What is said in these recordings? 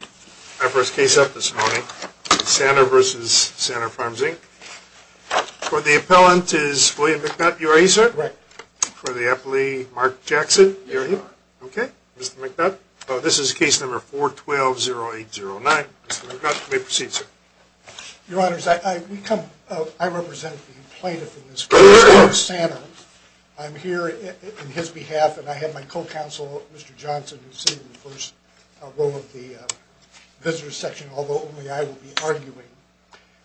My first case up this morning is Sanner v. Sanner Farms, Inc. For the appellant is William McNutt. You are he, sir? Correct. For the appellee, Mark Jackson. You are he? Yes, sir. Okay. Mr. McNutt. This is case number 412-0809. Mr. McNutt, you may proceed, sir. Your Honors, I represent the plaintiff in this case, Mr. Sanner. I'm here on his behalf, and I have my co-counsel, Mr. Johnson, who is sitting in the first row of the visitor's section, although only I will be arguing.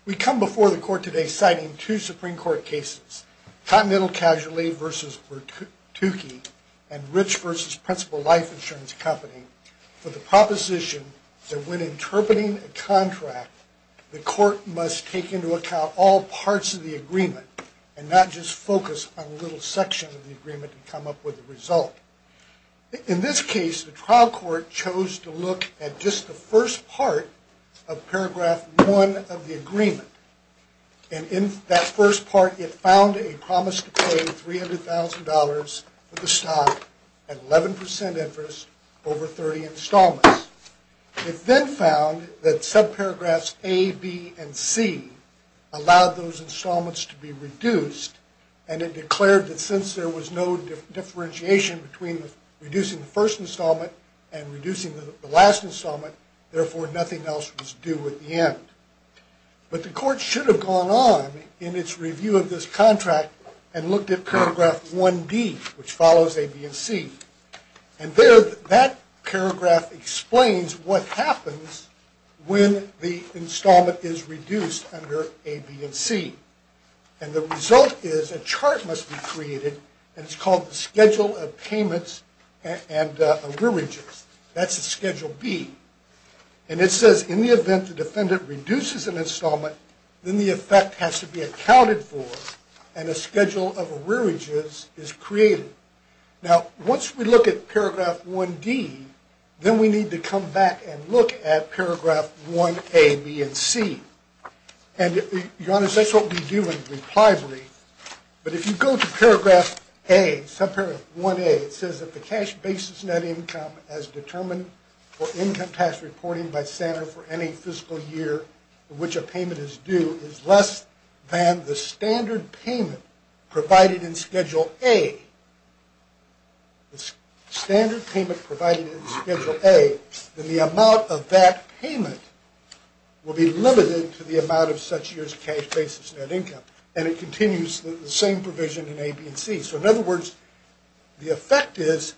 We come before the Court today citing two Supreme Court cases, Continental Casualty v. Bertucci and Rich v. Principal Life Insurance Company, for the proposition that when interpreting a contract, the Court must take into account all parts of the agreement and not just focus on a little section of the agreement and come up with a result. In this case, the trial court chose to look at just the first part of paragraph 1 of the agreement, and in that first part, it found a promise to pay $300,000 for the stock at 11% interest over 30 installments. It then found that subparagraphs A, B, and C allowed those installments to be reduced, and it declared that since there was no differentiation between reducing the first installment and reducing the last installment, therefore nothing else was due at the end. But the Court should have gone on in its review of this contract and looked at paragraph 1D, which follows A, B, and C, and there that paragraph explains what happens when the installment is reduced under A, B, and C. And the result is a chart must be created, and it's called the Schedule of Payments and Allergies. That's a Schedule B, and it says in the event the defendant reduces an installment, then the effect has to be accounted for and a Schedule of Allergies is created. Now, once we look at paragraph 1D, then we need to come back and look at paragraph 1A, B, and C, and, Your Honor, that's what we do in the reply brief, but if you go to paragraph A, subparagraph 1A, it says that the cash basis net income as determined for income tax reporting by Santa for any fiscal year in which a payment is due is less than the standard payment provided in Schedule A. The standard payment provided in Schedule A, then the amount of that payment will be limited to the amount of such year's cash basis net income, and it continues the same provision in A, B, and C. So, in other words, the effect is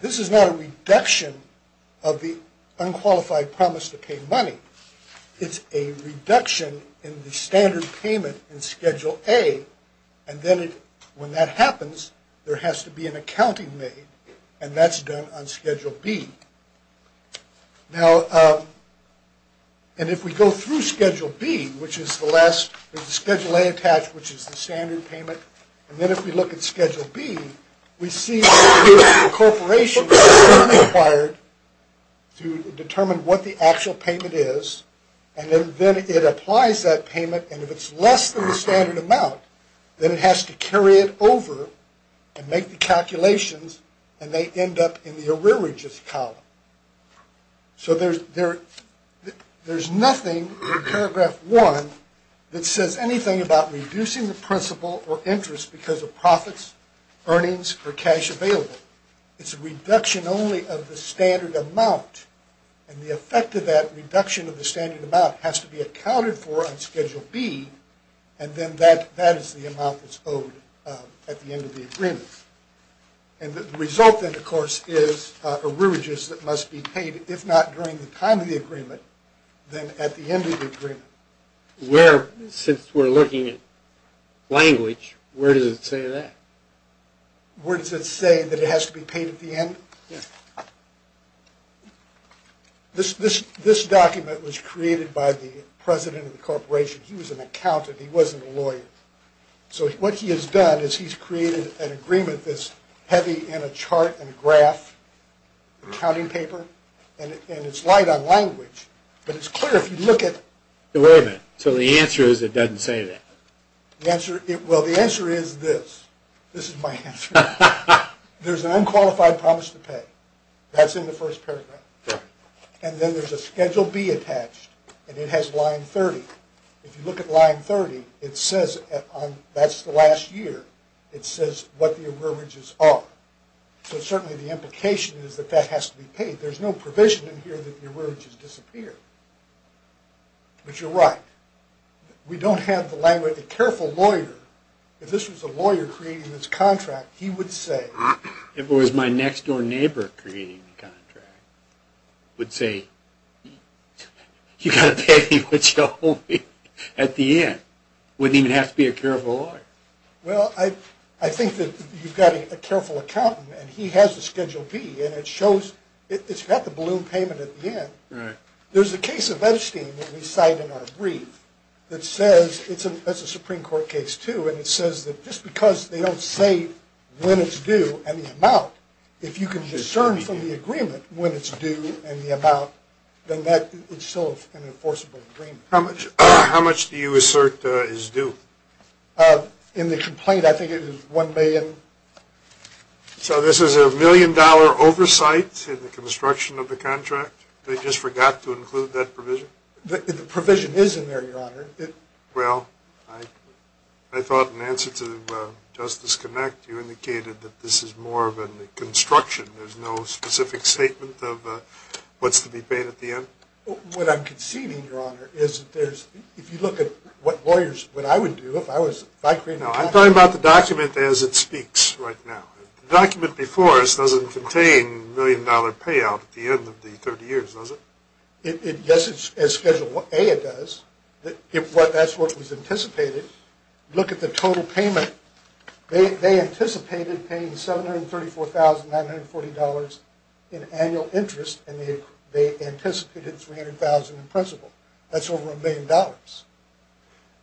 this is not a reduction of the unqualified promise to pay money. It's a reduction in the standard payment in Schedule A, and then when that happens, there has to be an accounting made, and that's done on Schedule B. Now, and if we go through Schedule B, which is the last, there's a Schedule A attached, which is the standard payment, and then if we look at Schedule B, we see the corporation is required to determine what the actual payment is, and then it applies that payment, and if it's less than the standard amount, then it has to carry it over and make the calculations, and they end up in the arrearages column. So, there's nothing in Paragraph 1 that says anything about reducing the principal or interest because of profits, earnings, or cash available. It's a reduction only of the standard amount, and the effect of that reduction of the standard amount has to be accounted for on Schedule B, and then that is the amount that's owed at the end of the agreement. And the result, then, of course, is arrearages that must be paid, if not during the time of the agreement, then at the end of the agreement. Where, since we're looking at language, where does it say that? Where does it say that it has to be paid at the end? Yeah. This document was created by the president of the corporation. He was an accountant. He wasn't a lawyer. So, what he has done is he's created an agreement that's heavy in a chart and a graph, an accounting paper, and it's light on language, but it's clear if you look at it. Wait a minute. So, the answer is it doesn't say that? Well, the answer is this. This is my answer. There's an unqualified promise to pay. That's in the first paragraph. And then there's a Schedule B attached, and it has line 30. If you look at line 30, it says, that's the last year, it says what the arrearages are. So, certainly the implication is that that has to be paid. There's no provision in here that the arrearages disappear. But you're right. We don't have the language. A careful lawyer, if this was a lawyer creating this contract, he would say, if it was my next-door neighbor creating the contract, would say, you've got to pay me what you owe me at the end. Wouldn't even have to be a careful lawyer. Well, I think that you've got a careful accountant, and he has a Schedule B, and it shows, it's got the balloon payment at the end. Right. There's a case of Edstein that we cite in our brief that says, it's a Supreme Court case too, and it says that just because they don't say when it's due and the amount, if you can discern from the agreement when it's due and the amount, then that is still an enforceable agreement. How much do you assert is due? In the complaint, I think it is $1 million. So this is a million-dollar oversight in the construction of the contract? They just forgot to include that provision? The provision is in there, Your Honor. Well, I thought in answer to Justice Connacht, you indicated that this is more of a construction. There's no specific statement of what's to be paid at the end? What I'm conceding, Your Honor, is that there's, if you look at what lawyers, what I would do if I was, if I created the contract. No, I'm talking about the document as it speaks right now. The document before us doesn't contain a million-dollar payout at the end of the 30 years, does it? Yes, as Schedule A, it does. That's what was anticipated. Look at the total payment. They anticipated paying $734,940 in annual interest, and they anticipated $300,000 in principal. That's over a million dollars.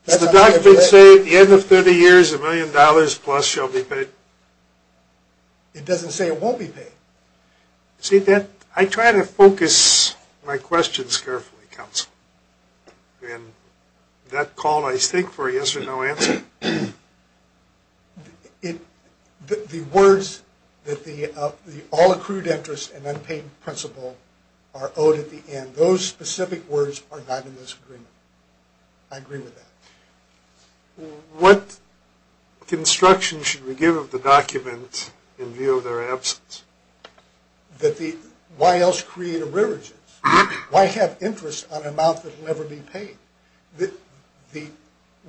Does the document say at the end of 30 years, a million dollars plus shall be paid? It doesn't say it won't be paid. See, I try to focus my questions carefully, counsel, and that call I stick for a yes or no answer. The words that the all accrued interest and unpaid principal are owed at the end, those specific words are not in this agreement. I agree with that. What construction should we give of the document in view of their absence? Why else create a religious? Why have interest on an amount that will never be paid?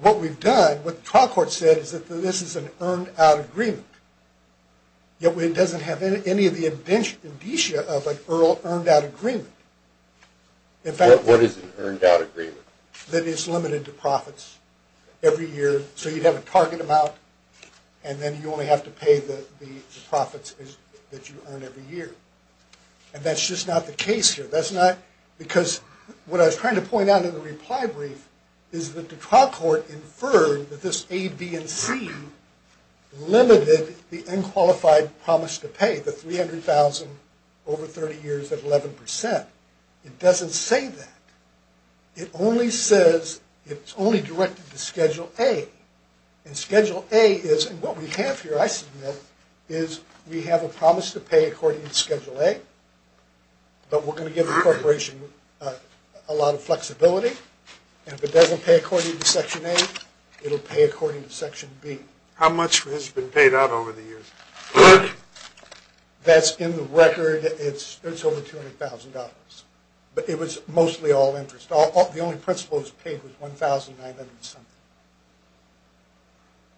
What we've done, what the trial court said is that this is an earned out agreement. It doesn't have any of the amnesia of an earned out agreement. What is an earned out agreement? That is limited to profits every year, so you'd have a target amount, and then you only have to pay the profits that you earn every year. And that's just not the case here. That's not because what I was trying to point out in the reply brief is that the trial court inferred that this A, B, and C limited the unqualified promise to pay, the $300,000 over 30 years at 11%. It doesn't say that. It only says, it's only directed to Schedule A. And Schedule A is, and what we have here, I submit, is we have a promise to pay according to Schedule A, but we're going to give the corporation a lot of flexibility, and if it doesn't pay according to Section A, it'll pay according to Section B. How much has been paid out over the years? That's in the record, it's over $200,000. But it was mostly all interest. The only principal that was paid was $1,900-something.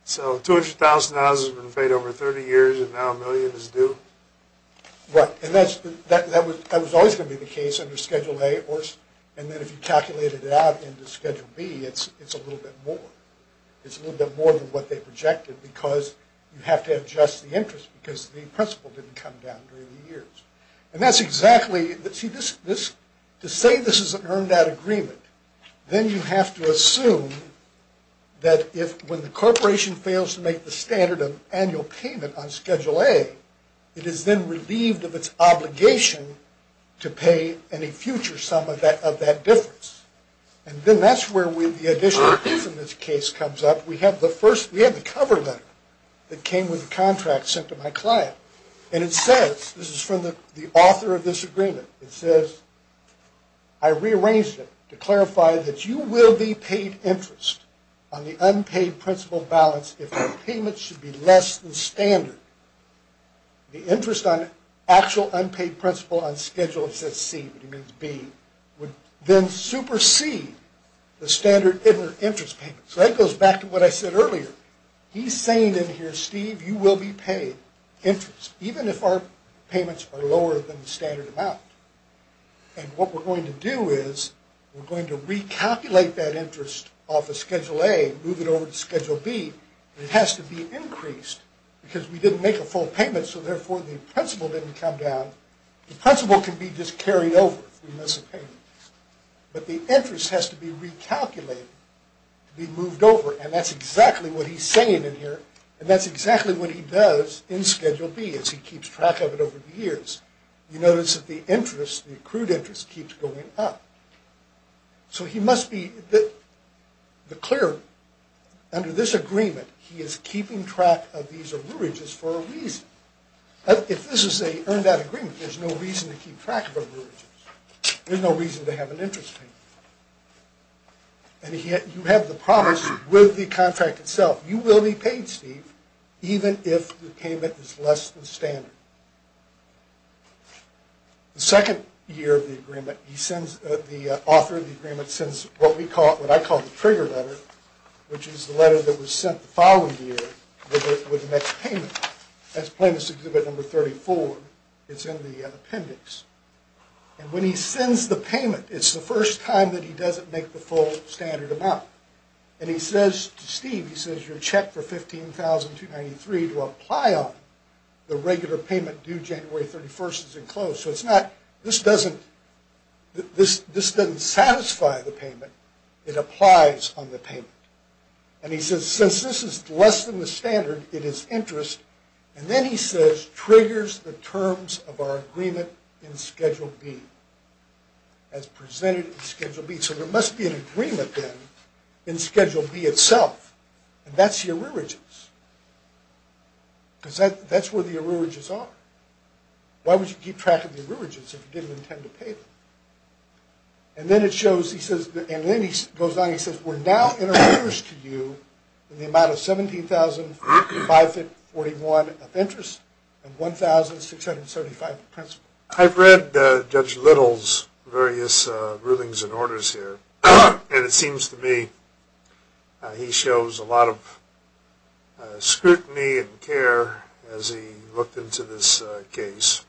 So $200,000 has been paid over 30 years, and now a million is due? Right, and that was always going to be the case under Schedule A, and then if you calculated it out into Schedule B, it's a little bit more. It's a little bit more than what they projected because you have to adjust the interest because the principal didn't come down during the years. And that's exactly, to say this is an earned-out agreement, then you have to assume that when the corporation fails to make the standard of annual payment on Schedule A, it is then relieved of its obligation to pay any future sum of that difference. And then that's where the additional piece in this case comes up. We have the first, we have the cover letter that came with the contract sent to my client, and it says, this is from the author of this agreement, it says, I rearranged it to clarify that you will be paid interest on the unpaid principal balance if the payment should be less than standard. The interest on actual unpaid principal on Schedule, it says C, but it means B, would then supersede the standard interest payment. So that goes back to what I said earlier. He's saying in here, Steve, you will be paid interest even if our payments are lower than the standard amount. And what we're going to do is we're going to recalculate that interest off of Schedule A, move it over to Schedule B, and it has to be increased because we didn't make a full payment, so therefore the principal didn't come down. The principal can be just carried over if we miss a payment. But the interest has to be recalculated to be moved over, and that's exactly what he's saying in here, and that's exactly what he does in Schedule B as he keeps track of it over the years. You notice that the interest, the accrued interest, keeps going up. So he must be clear under this agreement he is keeping track of these arrearages for a reason. If this is an earned out agreement, there's no reason to keep track of arrearages. There's no reason to have an interest payment. And you have the promise with the contract itself. You will be paid, Steve, even if the payment is less than standard. The second year of the agreement, the author of the agreement sends what I call the trigger letter, which is the letter that was sent the following year with the next payment. That's Plainness Exhibit Number 34. It's in the appendix. And when he sends the payment, it's the first time that he doesn't make the full standard amount. And he says to Steve, he says, You're checked for $15,293 to apply on the regular payment due January 31st is enclosed. So this doesn't satisfy the payment. It applies on the payment. And he says, Since this is less than the standard, it is interest. And then he says, Triggers the terms of our agreement in Schedule B. As presented in Schedule B. So there must be an agreement then in Schedule B itself. And that's the arrearages. Because that's where the arrearages are. Why would you keep track of the arrearages if you didn't intend to pay them? And then it shows, he says, and then he goes on, he says, We're now in arrears to you in the amount of $17,541 of interest and $1,675 of principal. I've read Judge Little's various rulings and orders here. And it seems to me he shows a lot of scrutiny and care as he looked into this case.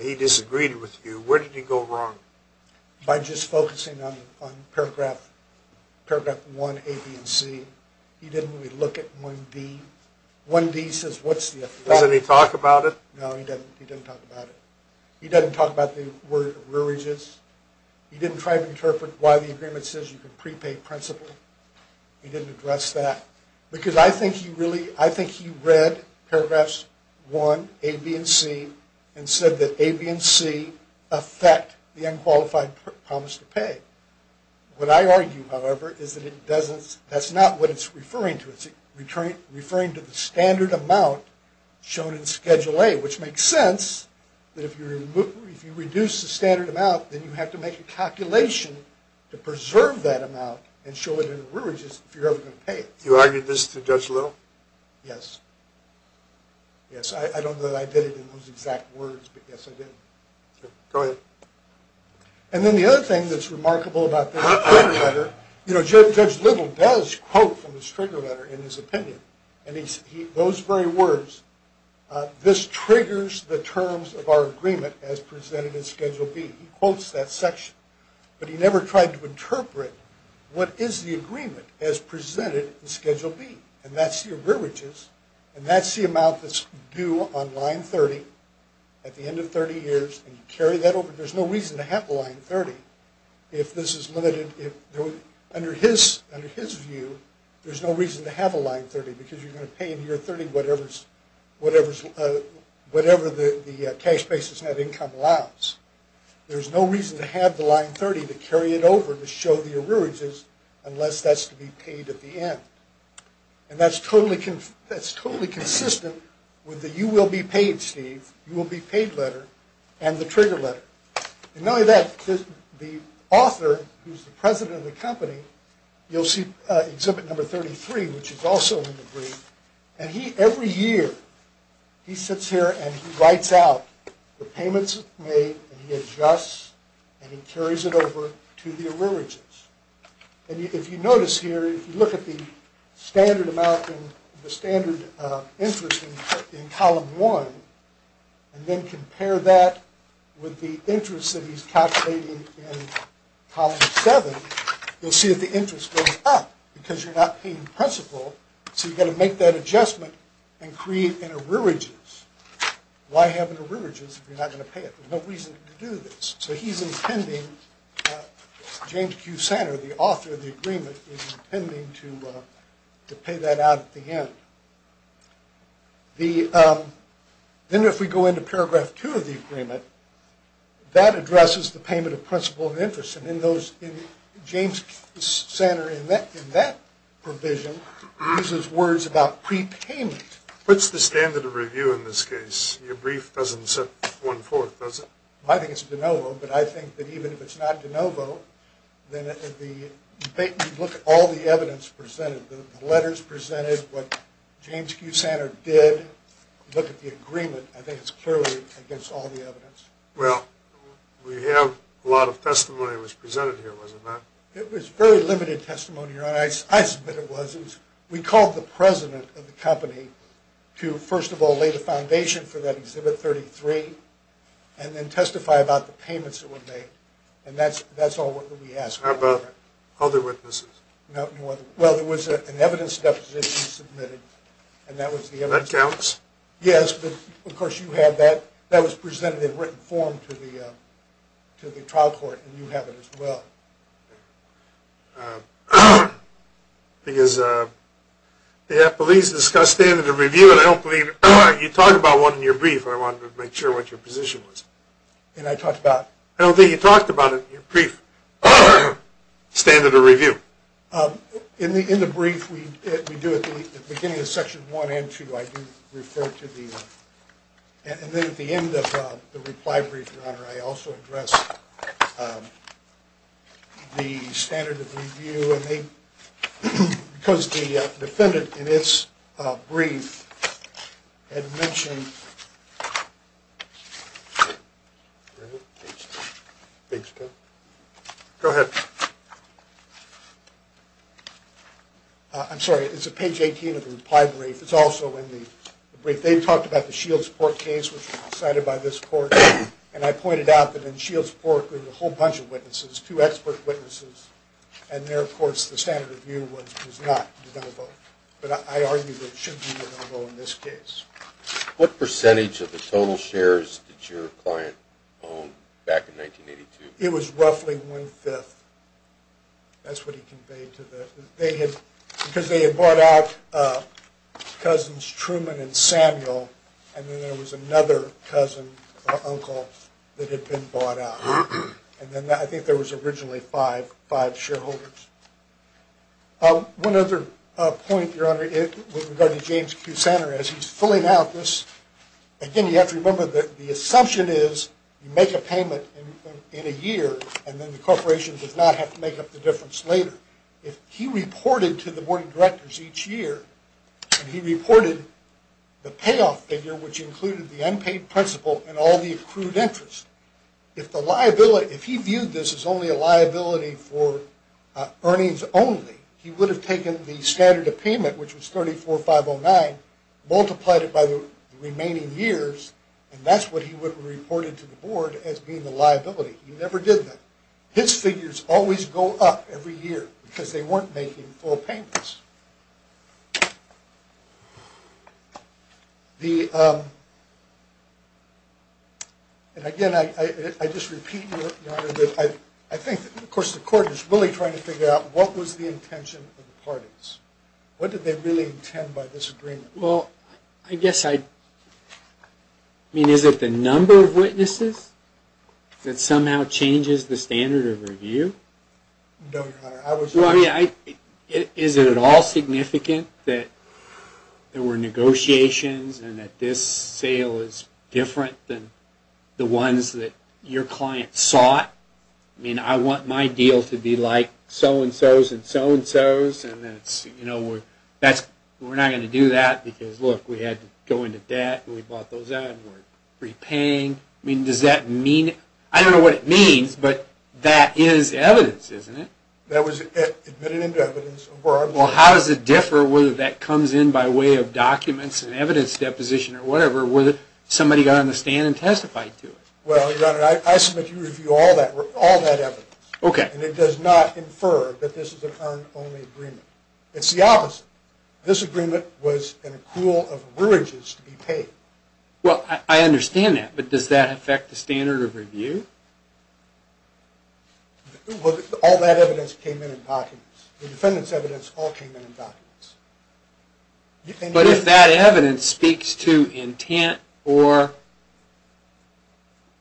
He disagreed with you. Where did he go wrong? By just focusing on paragraph 1A, B, and C. He didn't really look at 1D. 1D says, What's the effect? Doesn't he talk about it? No, he doesn't. He doesn't talk about it. He doesn't talk about the word arrearages. He didn't try to interpret why the agreement says you can prepay principal. He didn't address that. Because I think he read paragraphs 1A, B, and C and said that A, B, and C affect the unqualified promise to pay. What I argue, however, is that that's not what it's referring to. It's referring to the standard amount shown in Schedule A, which makes sense that if you reduce the standard amount, then you have to make a calculation to preserve that amount and show it in arrearages if you're ever going to pay it. You argued this to Judge Little? Yes. Yes, I don't know that I did it in those exact words, but yes, I did. Go ahead. And then the other thing that's remarkable about the trigger letter, you know, Judge Little does quote from his trigger letter in his opinion, and those very words, This triggers the terms of our agreement as presented in Schedule B. He quotes that section, but he never tried to interpret what is the agreement as presented in Schedule B, and that's the arrearages, and that's the amount that's due on line 30 at the end of 30 years, and you carry that over. There's no reason to have line 30 if this is limited. Under his view, there's no reason to have a line 30 because you're going to pay in year 30 whatever the cash basis net income allows. There's no reason to have the line 30 to carry it over to show the arrearages unless that's to be paid at the end, and that's totally consistent with the You Will Be Paid, Steve, You Will Be Paid letter and the trigger letter. In knowing that, the author, who's the president of the company, you'll see Exhibit Number 33, which is also in the brief, and he, every year, he sits here and he writes out the payments made and he adjusts and he carries it over to the arrearages, and if you notice here, if you look at the standard amount and the standard interest in Column 1 and then compare that with the interest that he's calculating in Column 7, you'll see that the interest goes up because you're not paying principal, so you've got to make that adjustment and create an arrearages. Why have an arrearages if you're not going to pay it? There's no reason to do this. So he's intending, James Q. Santer, the author of the agreement, is intending to pay that out at the end. Then if we go into Paragraph 2 of the agreement, that addresses the payment of principal and interest, and in those, James Santer in that provision uses words about prepayment. What's the standard of review in this case? Your brief doesn't set one forth, does it? I think it's de novo, but I think that even if it's not de novo, then if you look at all the evidence presented, the letters presented, what James Q. Santer did, look at the agreement, I think it's clearly against all the evidence. Well, we have a lot of testimony that was presented here, was it not? It was very limited testimony, Your Honor. I submit it was. We called the president of the company to, first of all, lay the foundation for that Exhibit 33, and then testify about the payments that were made, and that's all that we asked for. How about other witnesses? Well, there was an evidence deposition submitted, and that was the evidence. That counts? Yes, but of course you have that. That was presented in written form to the trial court, and you have it as well. Because the appellees discussed standard of review, and I don't believe you talked about one in your brief. I wanted to make sure what your position was. And I talked about? I don't think you talked about it in your brief, standard of review. In the brief we do at the beginning of Section 1 and 2, I do refer to the, and then at the end of the reply brief, Your Honor, I also address the standard of review, and they, because the defendant in its brief had mentioned, Go ahead. I'm sorry, it's at page 18 of the reply brief. It's also in the brief. They talked about the Shields court case, which was decided by this court, and I pointed out that in Shields court there were a whole bunch of witnesses, two expert witnesses, and there, of course, the standard of review was not de novo. But I argue that it should be de novo in this case. What percentage of the total shares did your client own back in 1982? It was roughly one-fifth. That's what he conveyed to the, they had, because they had brought out cousins Truman and Samuel, and then there was another cousin or uncle that had been bought out. And then I think there was originally five shareholders. One other point, Your Honor, regarding James Kusaner, as he's filling out this, again, you have to remember that the assumption is you make a payment in a year, and then the corporation does not have to make up the difference later. If he reported to the board of directors each year, and he reported the payoff figure, which included the unpaid principal and all the accrued interest, if the liability, if he viewed this as only a liability for earnings only, he would have taken the standard of payment, which was 34,509, multiplied it by the remaining years, and that's what he would have reported to the board as being the liability. He never did that. His figures always go up every year because they weren't making full payments. And again, I just repeat, Your Honor, that I think, of course, the court is really trying to figure out what was the intention of the parties. What did they really intend by this agreement? Well, I guess I, I mean, is it the number of witnesses that somehow changes the standard of review? No, Your Honor. Well, I mean, is it at all significant that there were negotiations and that this sale is different than the ones that your client sought? I mean, I want my deal to be like so-and-so's and so-and-so's, and then it's, you know, we're not going to do that because, look, we had to go into debt and we bought those out and we're repaying. I mean, does that mean, I don't know what it means, but that is evidence, isn't it? That was admitted into evidence. Well, how does it differ whether that comes in by way of documents and evidence deposition or whatever, whether somebody got on the stand and testified to it? Well, Your Honor, I submit to you all that evidence. Okay. And it does not infer that this is an earned-only agreement. It's the opposite. This agreement was an accrual of averages to be paid. Well, I understand that, but does that affect the standard of review? Well, all that evidence came in in documents. The defendant's evidence all came in in documents. But if that evidence speaks to intent or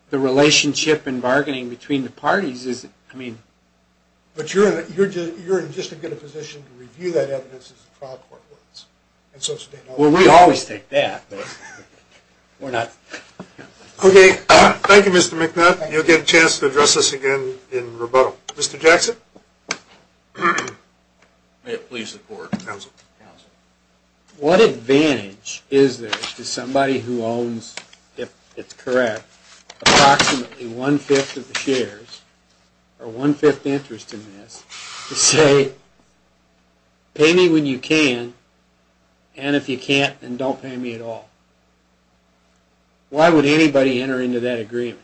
the relationship in bargaining between the parties is, I mean. But you're in just as good a position to review that evidence as the trial court was. Well, we always take that, but we're not. Okay. Thank you, Mr. McNutt. You'll get a chance to address us again in rebuttal. Mr. Jackson. May it please the Court. Counsel. What advantage is there to somebody who owns, if it's correct, approximately one-fifth of the shares, or one-fifth interest in this, to say, pay me when you can, and if you can't, then don't pay me at all? Why would anybody enter into that agreement?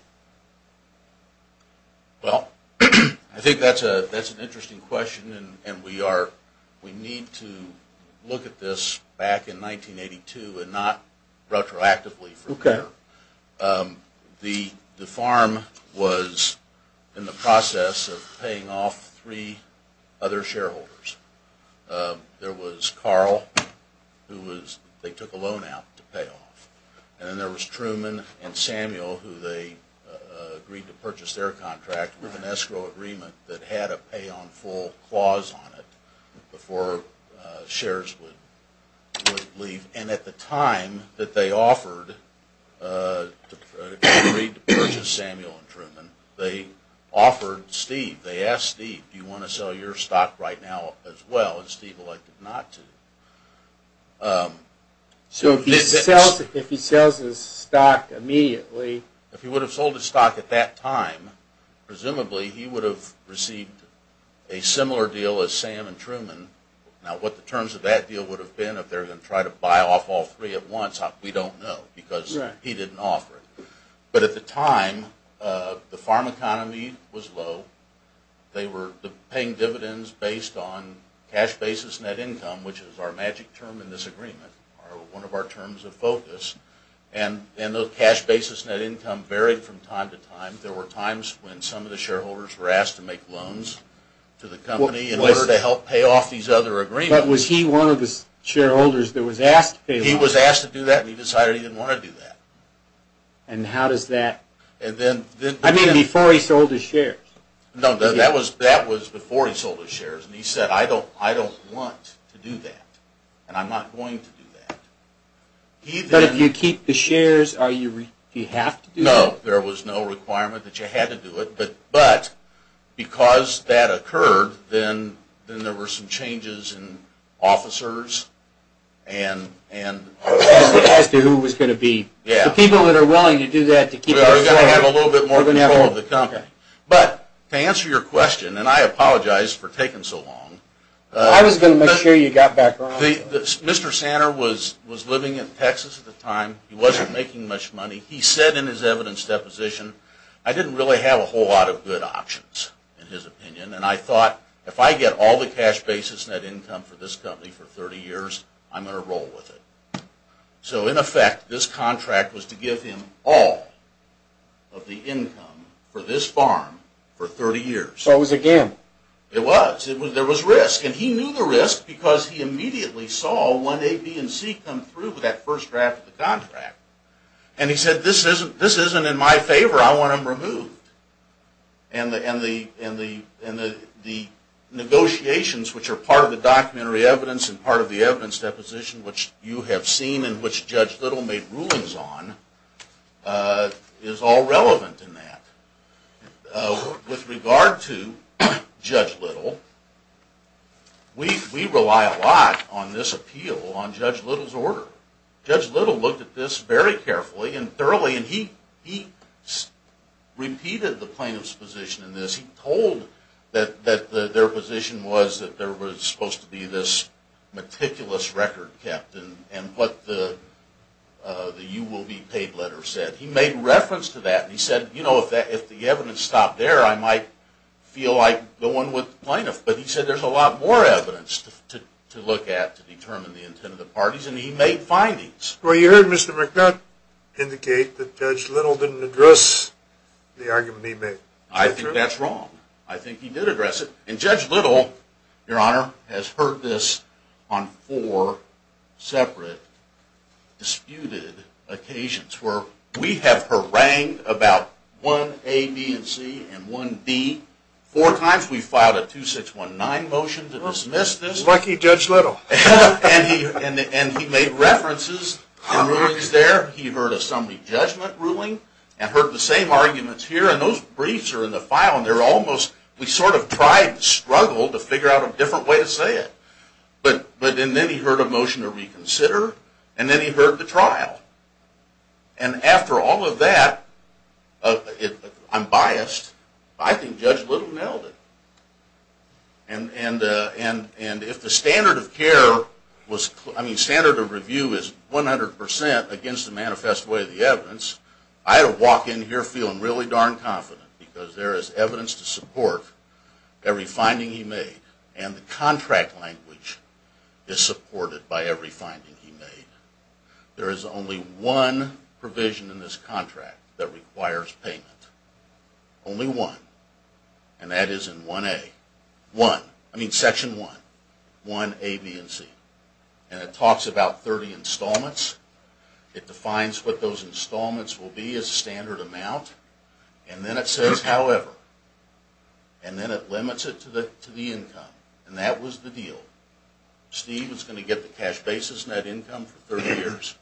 Well, I think that's an interesting question, and we need to look at this back in 1982 and not retroactively from here. The farm was in the process of paying off three other shareholders. There was Carl, who they took a loan out to pay off. And then there was Truman and Samuel, who they agreed to purchase their contract with an escrow agreement that had a pay on full clause on it before shares would leave. And at the time that they offered to purchase Samuel and Truman, they offered Steve. They asked Steve, do you want to sell your stock right now as well? And Steve elected not to. So if he sells his stock immediately. If he would have sold his stock at that time, presumably he would have received a similar deal as Sam and Truman. Now what the terms of that deal would have been if they were going to try to buy off all three at once, we don't know, because he didn't offer it. But at the time, the farm economy was low. They were paying dividends based on cash basis net income, which is our magic term in this agreement, or one of our terms of focus. And the cash basis net income varied from time to time. I think there were times when some of the shareholders were asked to make loans to the company in order to help pay off these other agreements. But was he one of the shareholders that was asked to pay off? He was asked to do that, and he decided he didn't want to do that. And how does that? I mean, before he sold his shares. No, that was before he sold his shares. And he said, I don't want to do that, and I'm not going to do that. But if you keep the shares, do you have to do that? Well, there was no requirement that you had to do it. But because that occurred, then there were some changes in officers and – As to who it was going to be. Yeah. The people that are willing to do that to keep it afloat. We are going to have a little bit more control of the company. But to answer your question, and I apologize for taking so long. I was going to make sure you got back on. Mr. Sanner was living in Texas at the time. He wasn't making much money. He said in his evidence deposition, I didn't really have a whole lot of good options, in his opinion. And I thought, if I get all the cash basis net income for this company for 30 years, I'm going to roll with it. So, in effect, this contract was to give him all of the income for this farm for 30 years. So it was a gamble. It was. There was risk. And he knew the risk because he immediately saw 1A, B, and C come through with that first draft of the contract. And he said, this isn't in my favor. I want him removed. And the negotiations, which are part of the documentary evidence and part of the evidence deposition, which you have seen and which Judge Little made rulings on, is all relevant in that. With regard to Judge Little, we rely a lot on this appeal on Judge Little's order. Judge Little looked at this very carefully and thoroughly. And he repeated the plaintiff's position in this. He told that their position was that there was supposed to be this meticulous record kept and what the you will be paid letter said. He made reference to that. He said, you know, if the evidence stopped there, I might feel like going with the plaintiff. But he said there's a lot more evidence to look at to determine the intent of the parties. And he made findings. Well, you heard Mr. McNutt indicate that Judge Little didn't address the argument he made. I think that's wrong. I think he did address it. And Judge Little, Your Honor, has heard this on four separate disputed occasions where we have harangued about 1A, B, and C and 1D four times. We filed a 2619 motion to dismiss this. Lucky Judge Little. And he made references and rulings there. He heard a summary judgment ruling and heard the same arguments here. And those briefs are in the file. We sort of tried to struggle to figure out a different way to say it. But then he heard a motion to reconsider. And then he heard the trial. And after all of that, I'm biased, I think Judge Little nailed it. And if the standard of review is 100% against the manifest way of the evidence, I don't walk in here feeling really darn confident because there is evidence to support every finding he made. And the contract language is supported by every finding he made. There is only one provision in this contract that requires payment. Only one. And that is in 1A. One. I mean Section 1. 1A, B, and C. And it talks about 30 installments. It defines what those installments will be as a standard amount. And then it says however. And then it limits it to the income. And that was the deal. Steve was going to get the cash basis net income for 30 years.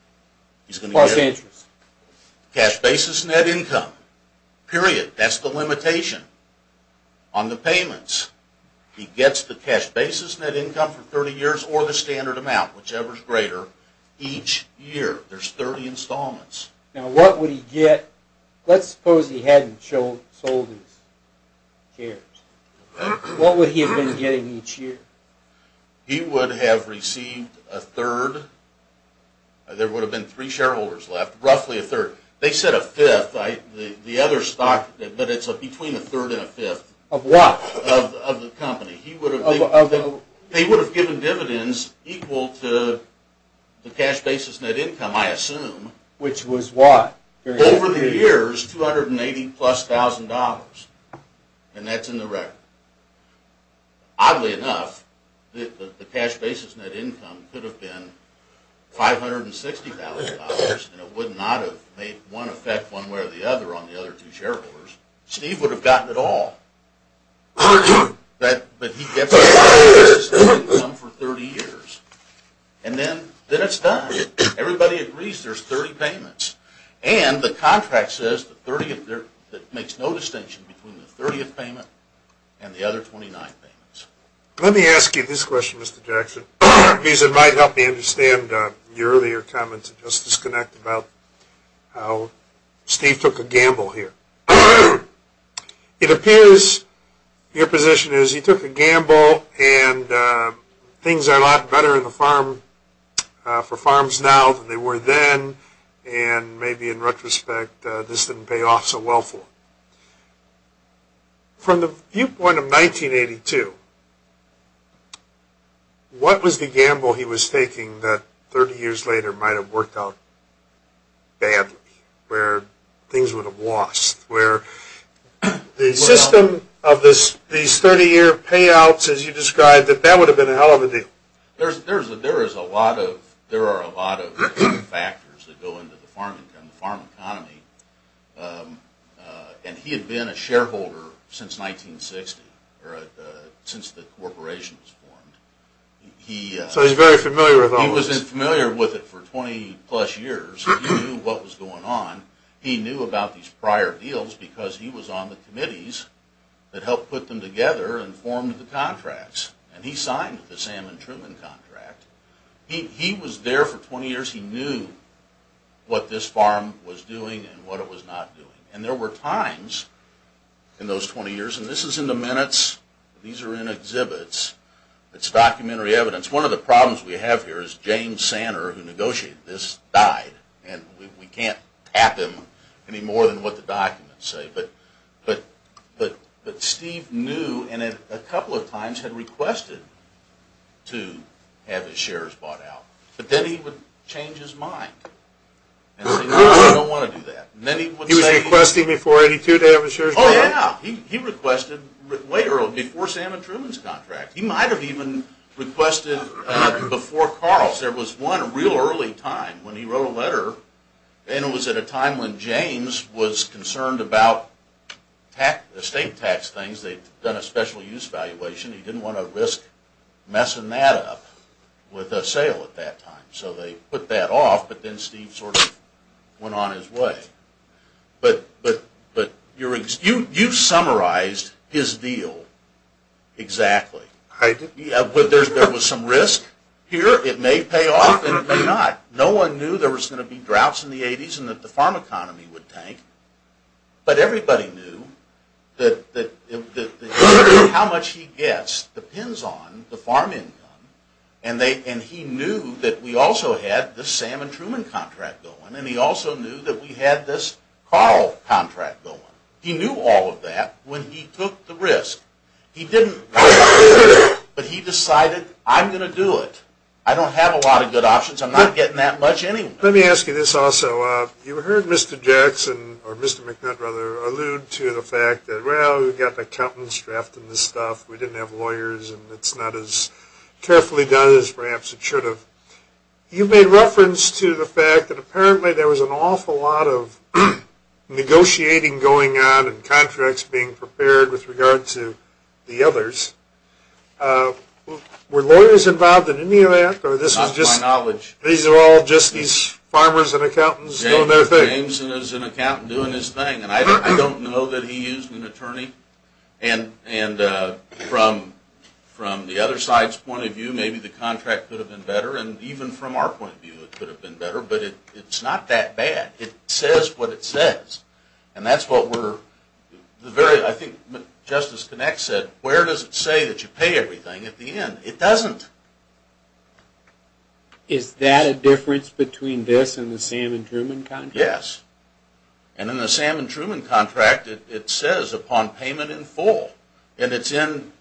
He's going to get it. Cash basis net income. Period. That's the limitation on the payments. He gets the cash basis net income for 30 years or the standard amount, whichever is greater, each year. There's 30 installments. Now what would he get? Let's suppose he hadn't sold his shares. What would he have been getting each year? He would have received a third. There would have been three shareholders left. Roughly a third. They said a fifth. The other stock, but it's between a third and a fifth. Of what? Of the company. They would have given dividends equal to the cash basis net income, I assume. Which was what? Over the years, $280,000 plus. And that's in the record. Oddly enough, the cash basis net income could have been $560,000. And it would not have made one effect one way or the other on the other two shareholders. Steve would have gotten it all. But he gets the cash basis net income for 30 years. And then it's done. Everybody agrees there's 30 payments. And the contract says that it makes no distinction between the 30th payment and the other 29 payments. Let me ask you this question, Mr. Jackson, because it might help me understand your earlier comment to Justice Connect about how Steve took a gamble here. It appears your position is he took a gamble, and things are a lot better for farms now than they were then, and maybe in retrospect this didn't pay off so well for him. From the viewpoint of 1982, what was the gamble he was taking that 30 years later might have worked out badly, where things would have lost, where the system of these 30-year payouts, as you described it, that would have been a hell of a deal. There are a lot of factors that go into the farm income, the farm economy. And he had been a shareholder since 1960, or since the corporation was formed. So he's very familiar with all this. He was familiar with it for 20-plus years. He knew what was going on. He knew about these prior deals because he was on the committees that helped put them together and formed the contracts. And he signed the Salmon Truman contract. He was there for 20 years. He knew what this farm was doing and what it was not doing. And there were times in those 20 years, and this is in the minutes, these are in exhibits. It's documentary evidence. One of the problems we have here is James Santer, who negotiated this, died. And we can't tap him any more than what the documents say. But Steve knew and a couple of times had requested to have his shares bought out. But then he would change his mind and say, no, I don't want to do that. He was requesting before 82 to have his shares bought out? Oh, yeah. He requested way early, before Salmon Truman's contract. He might have even requested before Carl's. There was one real early time when he wrote a letter, and it was at a time when James was concerned about estate tax things. They'd done a special use valuation. He didn't want to risk messing that up with a sale at that time. So they put that off, but then Steve sort of went on his way. But you've summarized his deal exactly. There was some risk here. It may pay off and it may not. No one knew there was going to be droughts in the 80s and that the farm economy would tank. But everybody knew that how much he gets depends on the farm income, and he knew that we also had the Salmon Truman contract going, and he also knew that we had this Carl contract going. He knew all of that when he took the risk. He didn't want to do it, but he decided, I'm going to do it. I don't have a lot of good options. I'm not getting that much anyway. Let me ask you this also. You heard Mr. Jackson, or Mr. McNutt rather, allude to the fact that, well, we've got accountants drafting this stuff, we didn't have lawyers, and it's not as carefully done as perhaps it should have. You made reference to the fact that apparently there was an awful lot of negotiating going on and contracts being prepared with regard to the others. Were lawyers involved in any of that? Not to my knowledge. These are all just these farmers and accountants doing their thing. Jameson is an accountant doing his thing, and I don't know that he used an attorney. And from the other side's point of view, maybe the contract could have been better, and even from our point of view it could have been better, but it's not that bad. It says what it says, and that's what we're very – I think Justice Connex said, where does it say that you pay everything at the end? It doesn't. Is that a difference between this and the Sam and Truman contract? Yes. And in the Sam and Truman contract, it says upon payment in full, and it's in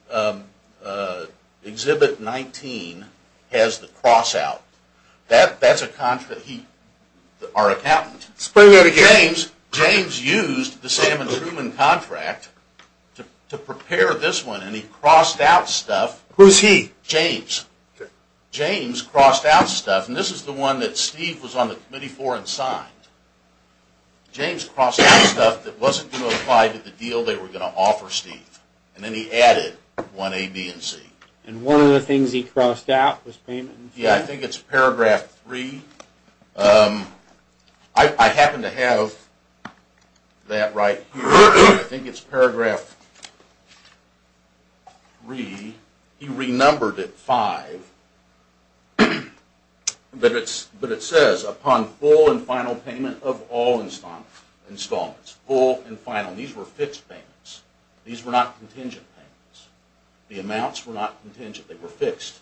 Exhibit 19, has the cross-out. That's a contract he – our accountant. Explain that again. James used the Sam and Truman contract to prepare this one, and he crossed out stuff. Who's he? James. James crossed out stuff, and this is the one that Steve was on the committee for and signed. James crossed out stuff that wasn't going to apply to the deal they were going to offer Steve, and then he added 1A, B, and C. And one of the things he crossed out was payment in full? Yes, I think it's Paragraph 3. I happen to have that right here. I think it's Paragraph 3. He renumbered it 5, but it says upon full and final payment of all installments. Full and final. These were fixed payments. These were not contingent payments. The amounts were not contingent. They were fixed.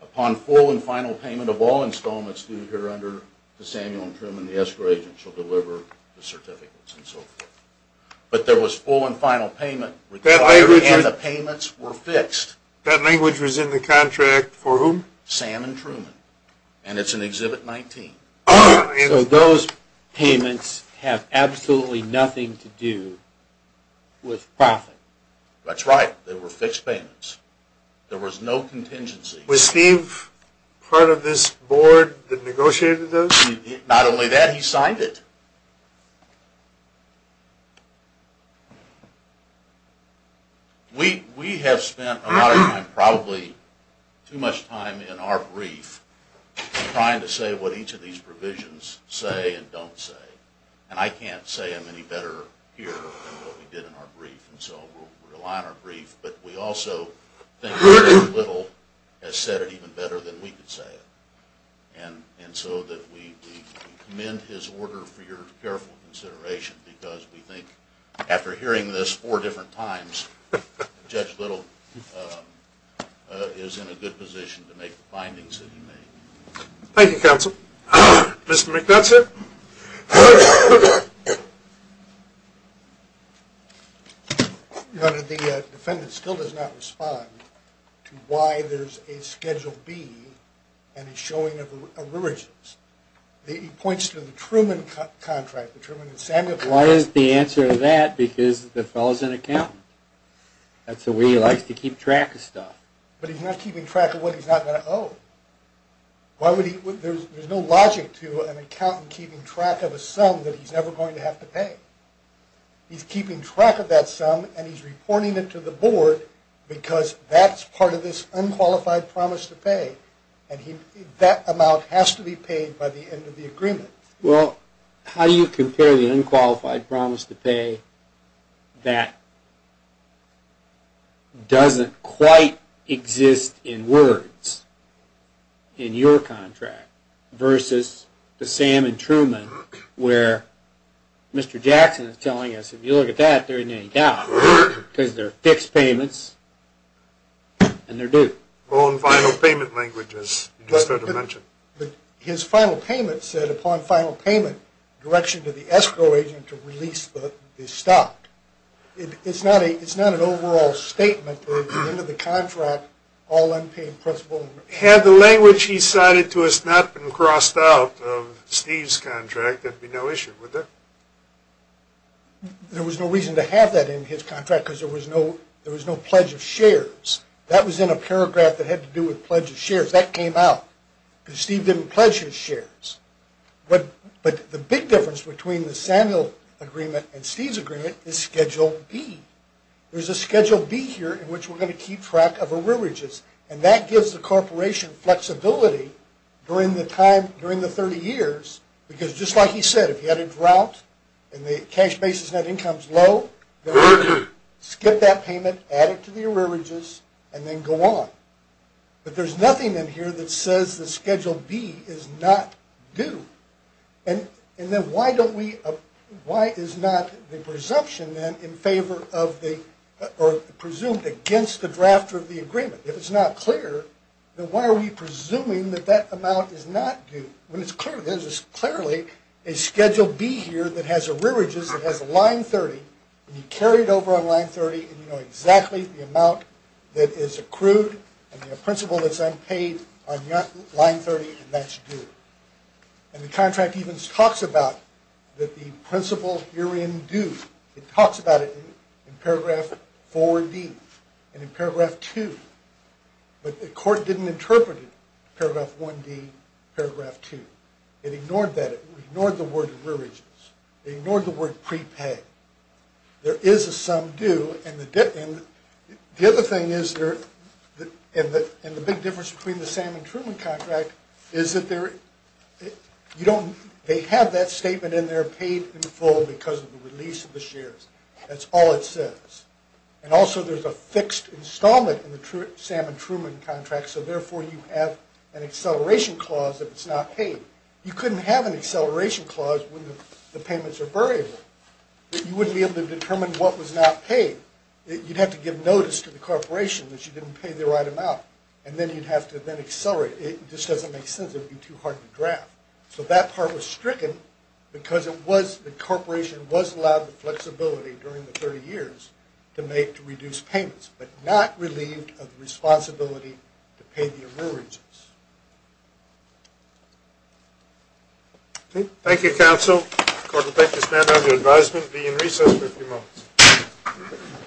Upon full and final payment of all installments due here under the Samuel and Truman, the escrow agent shall deliver the certificates and so forth. But there was full and final payment. And the payments were fixed. That language was in the contract for whom? Sam and Truman. And it's in Exhibit 19. So those payments have absolutely nothing to do with profit. That's right. They were fixed payments. There was no contingency. Was Steve part of this board that negotiated those? Not only that, he signed it. We have spent a lot of time, probably too much time in our brief, trying to say what each of these provisions say and don't say. And I can't say them any better here than what we did in our brief, and so we'll rely on our brief. But we also think very little has said it even better than we could say it. And so we commend his order for your careful consideration because we think after hearing this four different times, Judge Little is in a good position to make the findings that he made. Thank you, Counsel. Mr. McNutson? Your Honor, the defendant still does not respond to why there's a Schedule B and a showing of arrearages. He points to the Truman contract, the Truman and Samuel contract. Why isn't the answer to that? Because the fellow's an accountant. That's the way he likes to keep track of stuff. But he's not keeping track of what he's not going to owe. There's no logic to an accountant keeping track of a sum that he's never going to have to pay. He's keeping track of that sum, and he's reporting it to the board because that's part of this unqualified promise to pay, and that amount has to be paid by the end of the agreement. Well, how do you compare the unqualified promise to pay that doesn't quite exist in words in your contract versus the Sam and Truman where Mr. Jackson is telling us, If you look at that, there isn't any doubt because they're fixed payments, and they're due. Well, in final payment language, as you just sort of mentioned. But his final payment said, upon final payment, direction to the escrow agent to release the stock. It's not an overall statement, but at the end of the contract, all unpaid principal. Had the language he cited to us not been crossed out of Steve's contract, I think there'd be no issue, would there? There was no reason to have that in his contract because there was no pledge of shares. That was in a paragraph that had to do with pledge of shares. That came out because Steve didn't pledge his shares. But the big difference between the Samuel agreement and Steve's agreement is Schedule B. There's a Schedule B here in which we're going to keep track of arrearages, and that gives the corporation flexibility during the 30 years because just like he said, if you had a drought and the cash basis net income's low, skip that payment, add it to the arrearages, and then go on. But there's nothing in here that says that Schedule B is not due. And then why is not the presumption then in favor of the or presumed against the drafter of the agreement? If it's not clear, then why are we presuming that that amount is not due? When there's clearly a Schedule B here that has arrearages, that has line 30, and you carry it over on line 30, and you know exactly the amount that is accrued and the principal that's unpaid on line 30, and that's due. And the contract even talks about that the principal herein due. It talks about it in paragraph 4D and in paragraph 2, but the court didn't interpret it, paragraph 1D, paragraph 2. It ignored that. It ignored the word arrearages. It ignored the word prepaid. There is a sum due, and the other thing is there, and the big difference between the Sam and Truman contract is that they have that statement in there paid in full because of the release of the shares. That's all it says. And also there's a fixed installment in the Sam and Truman contract, so therefore you have an acceleration clause if it's not paid. You couldn't have an acceleration clause when the payments are variable. You wouldn't be able to determine what was not paid. You'd have to give notice to the corporation that you didn't pay the right amount, and then you'd have to then accelerate it. It just doesn't make sense. It would be too hard to draft. So that part was stricken because the corporation was allowed the flexibility during the 30 years to reduce payments but not relieved of the responsibility to pay the arrearages. Thank you, counsel. The court will take this matter under advisement and be in recess for a few moments.